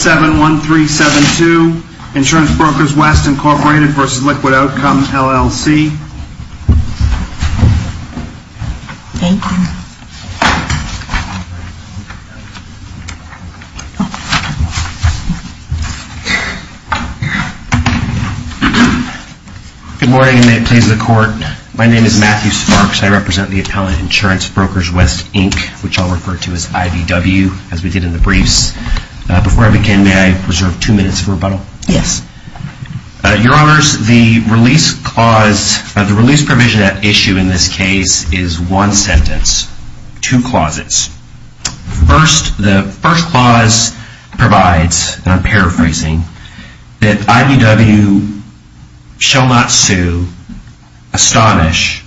71372 Insurance Brokers West, Inc. v. Liquid Outcome, LLC Good morning, and may it please the Court. My name is Matthew Sparks. I represent the appellate insurance brokers West, Inc., which I'll refer to as IVW, as we did in the briefs. Before I begin, may I reserve two minutes for rebuttal? Yes. Your Honors, the release provision at issue in this case is one sentence. Two clauses. First, the first clause provides, and I'm paraphrasing, that IVW shall not sue Astonish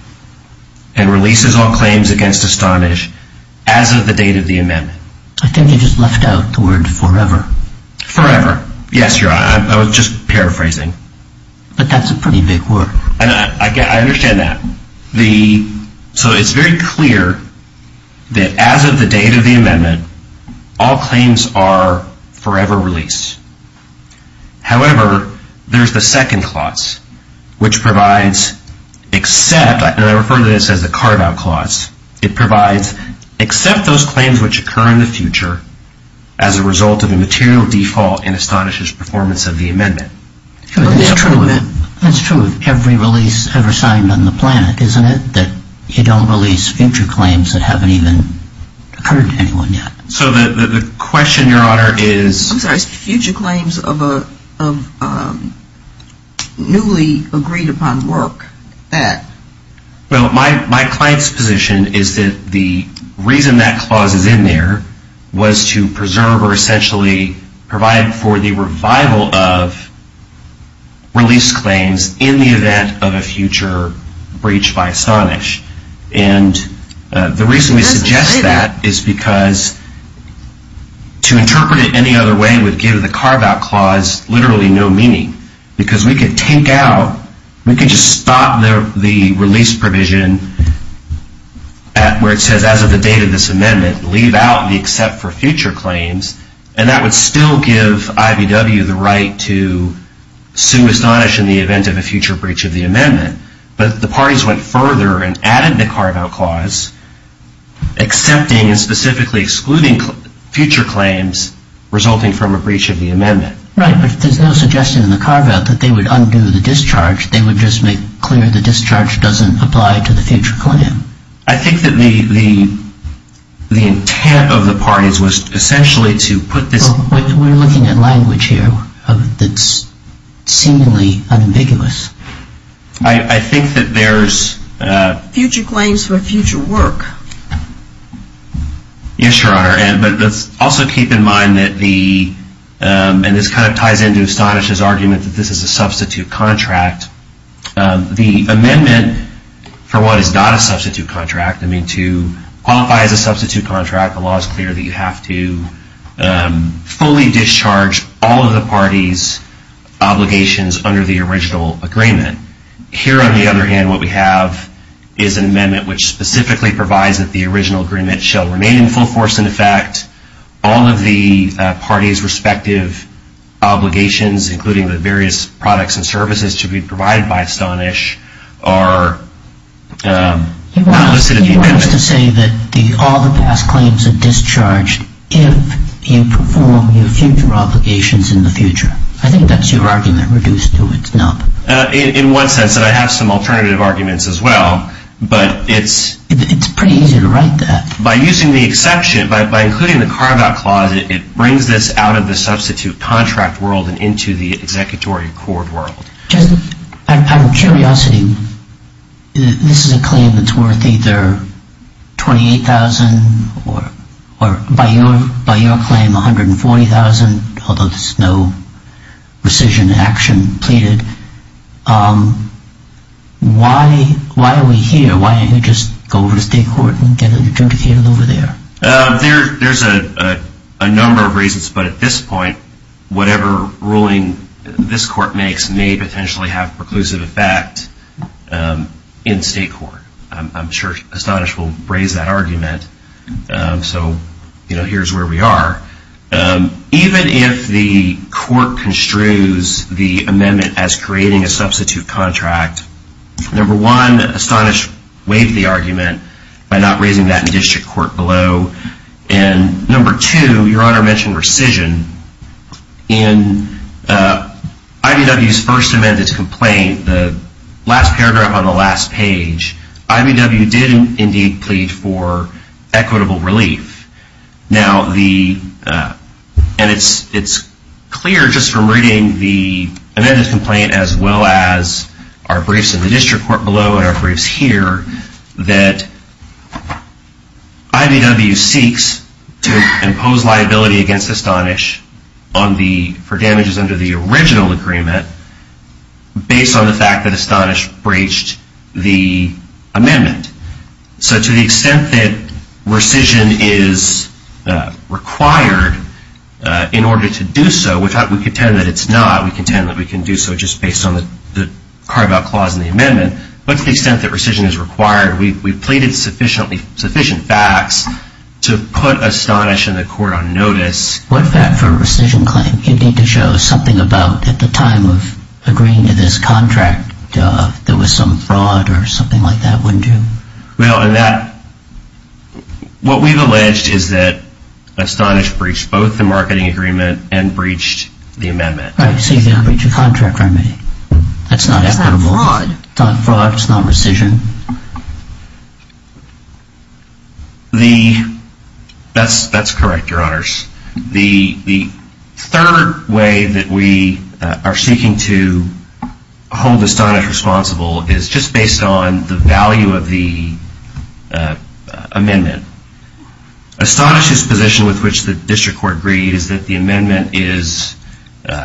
and releases all claims against Astonish as of the date of the amendment. I think you just left out the word forever. Forever. Yes, Your Honor, I was just paraphrasing. But that's a pretty big word. I understand that. So it's very clear that as of the date of the amendment, all claims are forever released. However, there's the second clause, which provides except, and I refer to this as the carve-out clause, it provides except those claims which occur in the future as a result of a material default in Astonish's performance of the amendment. That's true of every release ever signed on the planet, isn't it, that you don't release future claims that haven't even occurred to anyone yet? So the question, Your Honor, is... I'm sorry, is future claims of newly agreed-upon work that? Well, my client's position is that the reason that clause is in there was to preserve or essentially provide for the revival of release claims in the event of a future breach by Astonish. And the reason we suggest that is because to interpret it any other way would give the carve-out clause literally no meaning. Because we could take out, we could just stop the release provision where it says, as of the date of this amendment, leave out the except for future claims, and that would still give IVW the right to sue Astonish in the event of a future breach of the amendment. But the parties went further and added the carve-out clause, accepting and specifically excluding future claims resulting from a breach of the amendment. Right, but there's no suggestion in the carve-out that they would undo the discharge. They would just make clear the discharge doesn't apply to the future claim. I think that the intent of the parties was essentially to put this... We're looking at language here that's seemingly unambiguous. I think that there's... Future claims for future work. Yes, Your Honor, but let's also keep in mind that the... And this kind of ties into Astonish's argument that this is a substitute contract. The amendment, for what is not a substitute contract, I mean to qualify as a substitute contract, the law is clear that you have to fully discharge all of the parties' obligations under the original agreement. Here, on the other hand, what we have is an amendment which specifically provides that the original agreement shall remain in full force in effect. All of the parties' respective obligations, including the various products and services to be provided by Astonish, are listed in the amendment. He wants to say that all the past claims are discharged if you perform your future obligations in the future. I think that's your argument reduced to a snub. In one sense, and I have some alternative arguments as well, but it's... It's pretty easy to write that. By using the exception, by including the carve-out clause, it brings this out of the substitute contract world and into the executory court world. Just out of curiosity, this is a claim that's worth either $28,000 or, by your claim, $140,000, although there's no rescission action pleaded. Why are we here? Why don't we just go over to state court and get it adjudicated over there? There's a number of reasons, but at this point, whatever ruling this court makes may potentially have preclusive effect in state court. I'm sure Astonish will raise that argument, so here's where we are. Even if the court construes the amendment as creating a substitute contract, number one, Astonish waived the argument by not raising that in district court below, and number two, your Honor mentioned rescission. In IVW's first amended complaint, the last paragraph on the last page, IVW did indeed plead for equitable relief. Now, and it's clear just from reading the amended complaint as well as our briefs in the district court below and our briefs here, that IVW seeks to impose liability against Astonish for damages under the original agreement based on the fact that Astonish breached the amendment. So to the extent that rescission is required in order to do so, we contend that it's not. We contend that we can do so just based on the carve-out clause in the amendment, but to the extent that rescission is required, we've pleaded sufficient facts to put Astonish and the court on notice. What fact for a rescission claim? You need to show something about at the time of agreeing to this contract that there was some fraud or something like that, wouldn't you? Well, what we've alleged is that Astonish breached both the marketing agreement and breached the amendment. Right, so you can't breach a contract remedy. That's not equitable. It's not fraud. It's not fraud. It's not rescission. That's correct, Your Honors. The third way that we are seeking to hold Astonish responsible is just based on the value of the amendment. Astonish's position, with which the district court agrees, is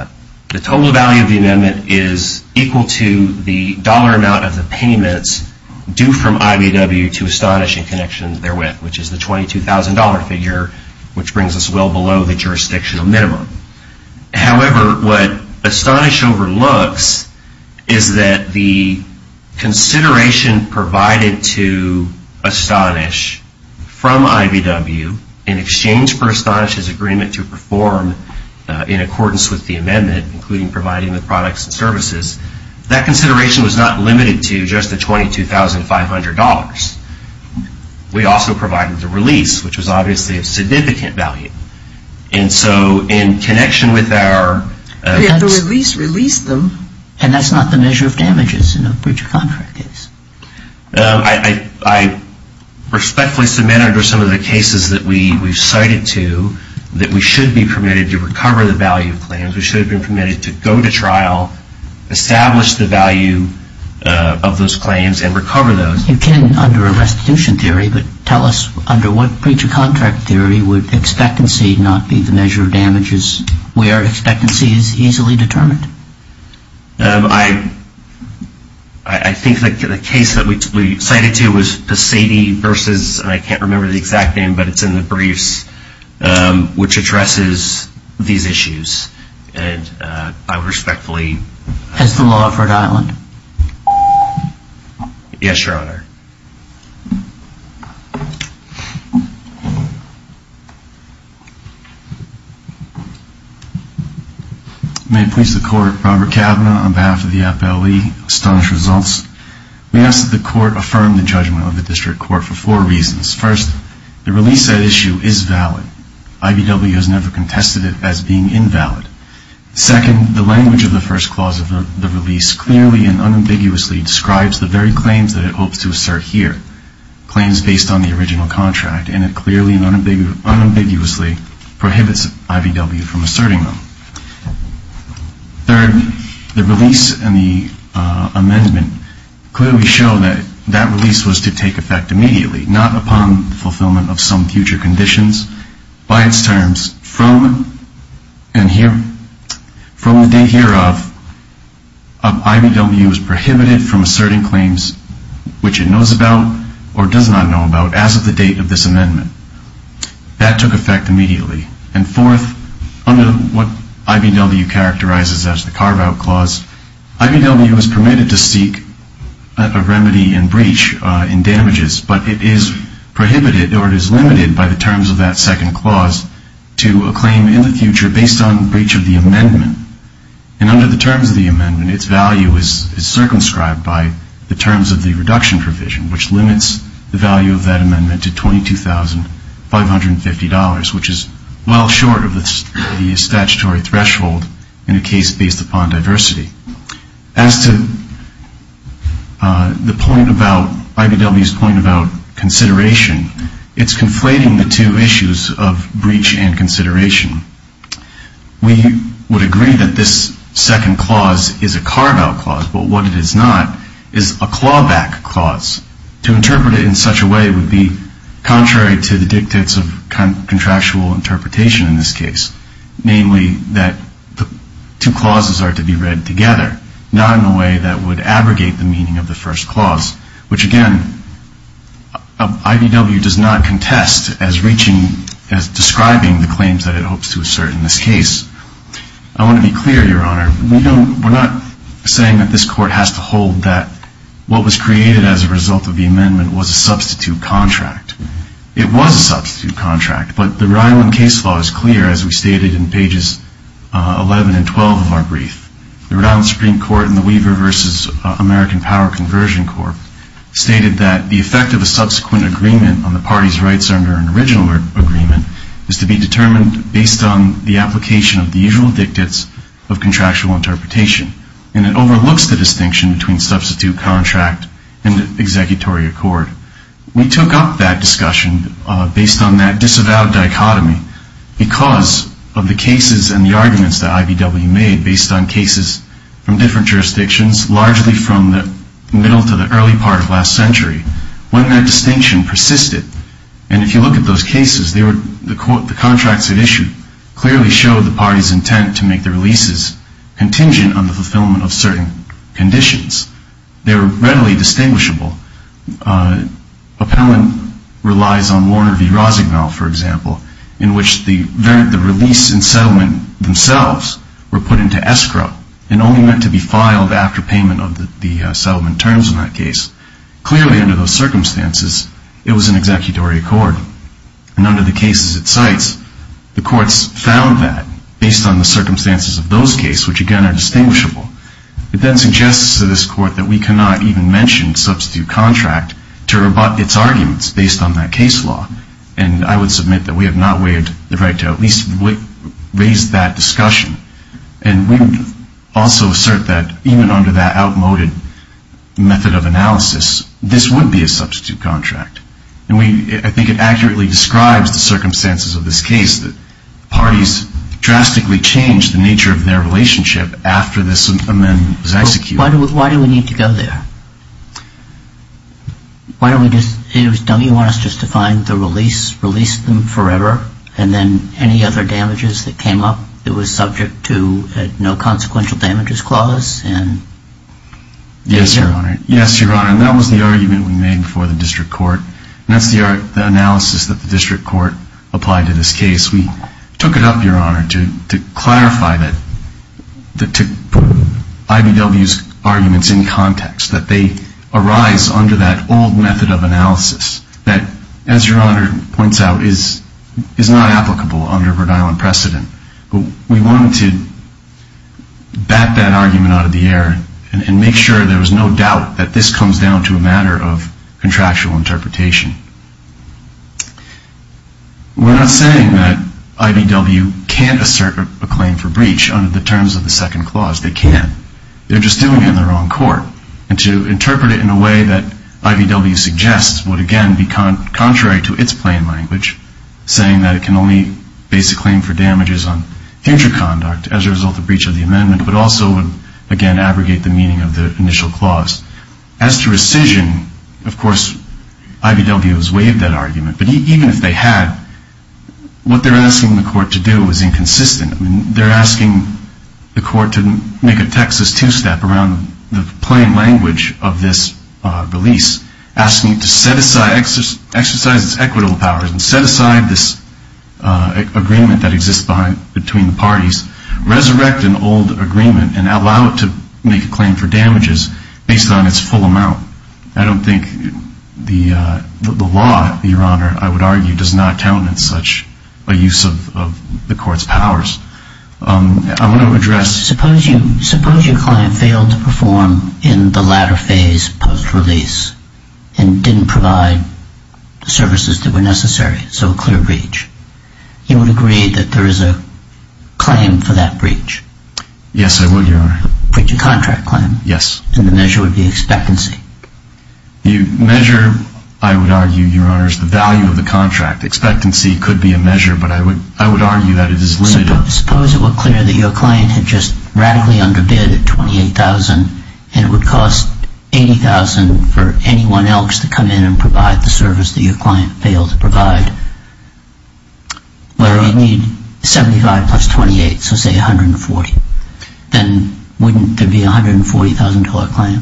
that the total value of the amendment is equal to the dollar amount of the payments due from IBW to Astonish in connection to their WIP, which is the $22,000 figure, which brings us well below the jurisdictional minimum. However, what Astonish overlooks is that the consideration provided to Astonish from IBW in exchange for Astonish's agreement to perform in accordance with the amendment, including providing the products and services, that consideration was not limited to just the $22,500. We also provided the release, which was obviously of significant value. And so in connection with our... The release released them. And that's not the measure of damages in a breach of contract case. I respectfully submit under some of the cases that we've cited to that we should be permitted to recover the value of claims. We should have been permitted to go to trial, establish the value of those claims, and recover those. You can under a restitution theory, but tell us under what breach of contract theory would expectancy not be the measure of damages where expectancy is easily determined? I think that the case that we cited to was Pasady versus... I can't remember the exact name, but it's in the briefs, which addresses these issues. And I respectfully... As the law of Rhode Island. Yes, Your Honor. May it please the court, Robert Kavanaugh on behalf of the FLE. Astonished results. We ask that the court affirm the judgment of the district court for four reasons. First, the release said issue is valid. IBW has never contested it as being invalid. Second, the language of the first clause of the release clearly and unambiguously describes the very claims that it hopes to assert here. Claims based on the original contract, and it clearly and unambiguously prohibits IBW from asserting them. Third, the release and the amendment clearly show that that release was to take effect immediately, not upon fulfillment of some future conditions. By its terms, from the date hereof, IBW is prohibited from asserting claims which it knows about or does not know about as of the date of this amendment. That took effect immediately. And fourth, under what IBW characterizes as the carve-out clause, IBW is permitted to seek a remedy in breach in damages, but it is prohibited or it is limited by the terms of that second clause to a claim in the future based on breach of the amendment. And under the terms of the amendment, its value is circumscribed by the terms of the reduction provision, which limits the value of that amendment to $22,550, which is well short of the statutory threshold in a case based upon diversity. As to the point about IBW's point about consideration, it's conflating the two issues of breach and consideration. We would agree that this second clause is a carve-out clause, but what it is not is a clawback clause. To interpret it in such a way would be contrary to the dictates of contractual interpretation in this case, namely that the two clauses are to be read together, not in a way that would abrogate the meaning of the first clause, which, again, IBW does not contest as reaching, as describing the claims that it hopes to assert in this case. I want to be clear, Your Honor, we're not saying that this Court has to hold that what was created as a result of the amendment was a substitute contract. It was a substitute contract, but the Rhode Island case law is clear, as we stated in pages 11 and 12 of our brief. The Rhode Island Supreme Court in the Weaver v. American Power Conversion Court stated that the effect of a subsequent agreement on the party's rights under an original agreement is to be determined based on the application of the usual dictates of contractual interpretation, and it overlooks the distinction between substitute contract and executory accord. We took up that discussion based on that disavowed dichotomy because of the cases and the arguments that IBW made based on cases from different jurisdictions, largely from the middle to the early part of last century, when that distinction persisted. And if you look at those cases, the contracts it issued clearly showed the party's intent to make their leases contingent on the fulfillment of certain conditions. They were readily distinguishable. Appellant relies on Warner v. Rosignol, for example, in which the release and settlement themselves were put into escrow and only meant to be filed after payment of the settlement terms in that case. Clearly, under those circumstances, it was an executory accord. And under the cases it cites, the courts found that based on the circumstances of those cases, which again are distinguishable. It then suggests to this Court that we cannot even mention substitute contract to rebut its arguments based on that case law. And I would submit that we have not waived the right to at least raise that discussion. And we would also assert that, even under that outmoded method of analysis, this would be a substitute contract. And I think it accurately describes the circumstances of this case, that parties drastically change the nature of their relationship after this amendment was executed. Why do we need to go there? Why don't we just... Don't you want us just to find the release, release them forever, and then any other damages that came up that was subject to a no consequential damages clause and... Yes, Your Honor. Yes, Your Honor. And that was the argument we made before the District Court. And that's the analysis that the District Court applied to this case. We took it up, Your Honor, to clarify that... to put I.B.W.'s arguments in context, that they arise under that old method of analysis that, as Your Honor points out, is not applicable under Rhode Island precedent. But we wanted to bat that argument out of the air and make sure there was no doubt that this comes down to a matter of contractual interpretation. We're not saying that I.B.W. can't assert a claim for breach under the terms of the second clause. They can. They're just doing it in the wrong court. And to interpret it in a way that I.B.W. suggests would, again, be contrary to its plain language, saying that it can only base a claim for damages on future conduct as a result of breach of the amendment, but also would, again, abrogate the meaning of the initial clause. As to rescission, of course, I.B.W. has waived that argument. But even if they had, what they're asking the court to do is inconsistent. They're asking the court to make a Texas two-step around the plain language of this release, asking it to exercise its equitable powers and set aside this agreement that exists between the parties, resurrect an old agreement, and allow it to make a claim for damages based on its full amount. I don't think the law, Your Honor, I would argue, does not count in such a use of the court's powers. I want to address. Suppose your client failed to perform in the latter phase post-release and didn't provide the services that were necessary, so a clear breach. You would agree that there is a claim for that breach? Yes, I would, Your Honor. A breach of contract claim? Yes. And the measure would be expectancy? The measure, I would argue, Your Honor, is the value of the contract. The expectancy could be a measure, but I would argue that it is limited. Suppose it were clear that your client had just radically underbid at $28,000 and it would cost $80,000 for anyone else to come in and provide the service that your client failed to provide. Well, you'd need $75,000 plus $28,000, so say $140,000. Then wouldn't there be a $140,000 claim?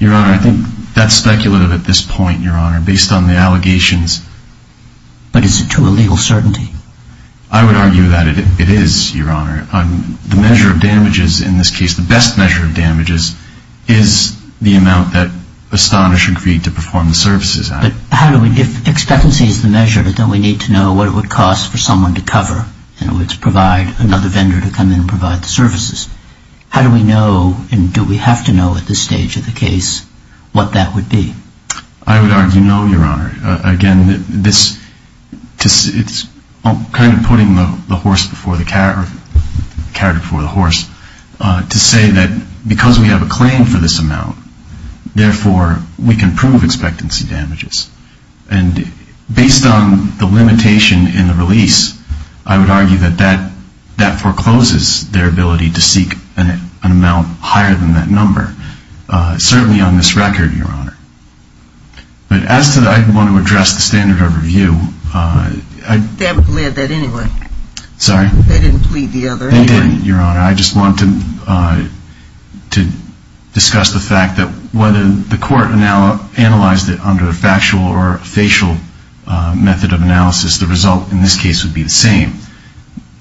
Your Honor, I think that's speculative at this point, Your Honor, based on the allegations. But is it to a legal certainty? I would argue that it is, Your Honor. The measure of damages in this case, the best measure of damages, is the amount that Astonish agreed to perform the services at. But how do we, if expectancy is the measure, then we need to know what it would cost for someone to cover and it would provide another vendor to come in and provide the services. How do we know, and do we have to know at this stage of the case, what that would be? I would argue no, Your Honor. Again, it's kind of putting the character before the horse to say that because we have a claim for this amount, therefore we can prove expectancy damages. And based on the limitation in the release, I would argue that that forecloses their ability to seek an amount higher than that number, certainly on this record, Your Honor. But as to the, I want to address the standard overview. They haven't plead that anyway. Sorry? They didn't plead the other anyway. They didn't, Your Honor. I just want to discuss the fact that whether the court analyzed it under a factual or facial method of analysis, the result in this case would be the same.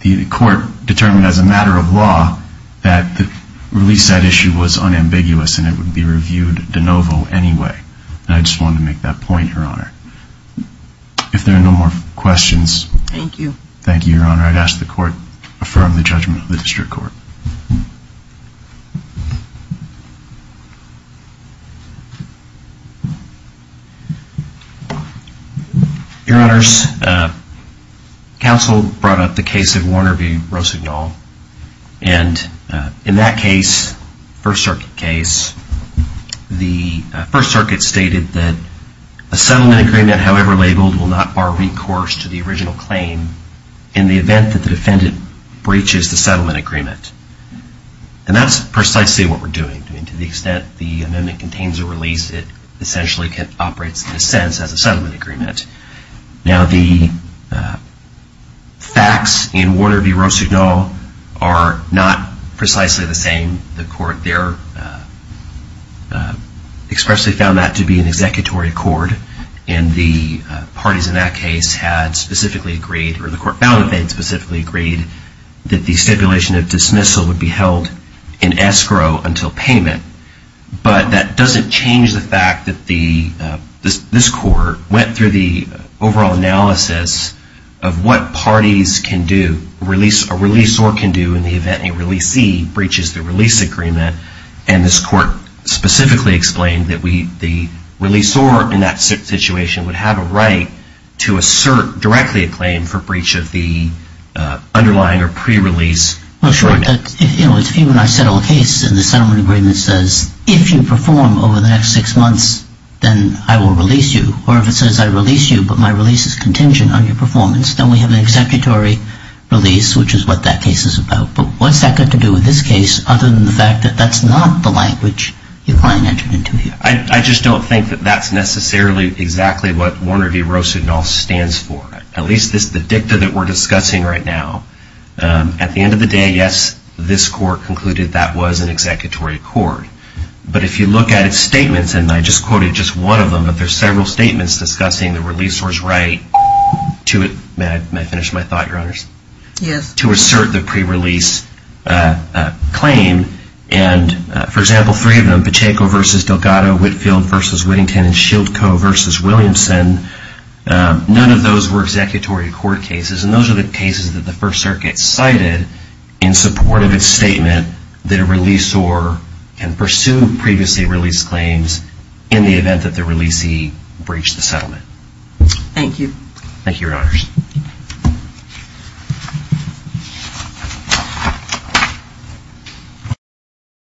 The court determined as a matter of law that the release side issue was unambiguous and it would be reviewed de novo anyway. And I just wanted to make that point, Your Honor. If there are no more questions. Thank you. Thank you, Your Honor. I'd ask the court to affirm the judgment of the district court. Your Honors, counsel brought up the case of Warner v. Rosignol. And in that case, First Circuit case, the First Circuit stated that a settlement agreement, however labeled, will not bar recourse to the original claim in the event that the defendant breaches the settlement agreement. And that's precisely what we're doing. To the extent the amendment contains a release, it essentially operates in a sense as a settlement agreement. Now the facts in Warner v. Rosignol are not precisely the same. The court there expressly found that to be an executory accord. And the parties in that case had specifically agreed, or the court found that they had specifically agreed, that the stipulation of dismissal would be held in escrow until payment. But that doesn't change the fact that this court went through the overall analysis of what parties can do, a release or can do, in the event a releasee breaches the release agreement. And this court specifically explained that the releasor in that situation would have a right to assert directly a claim for breach of the underlying or pre-release agreement. Well, sure. If you and I settle a case and the settlement agreement says, if you perform over the next six months, then I will release you. Or if it says I release you, but my release is contingent on your performance, then we have an executory release, which is what that case is about. But what's that got to do with this case, other than the fact that that's not the language your client entered into here? I just don't think that that's necessarily exactly what Warner v. Roosud and all stands for. At least the dicta that we're discussing right now. At the end of the day, yes, this court concluded that was an executory accord. But if you look at its statements, and I just quoted just one of them, but there's several statements discussing the releasor's right to it. May I finish my thought, Your Honors? Yes. To assert the pre-release claim, and for example, three of them, Pacheco v. Delgado, Whitfield v. Whittington, and Shieldco v. Williamson, none of those were executory accord cases. And those are the cases that the First Circuit cited in support of its statement that a releasor can pursue previously released claims in the event that the releasee breached the settlement. Thank you. Thank you, Your Honors. Thank you.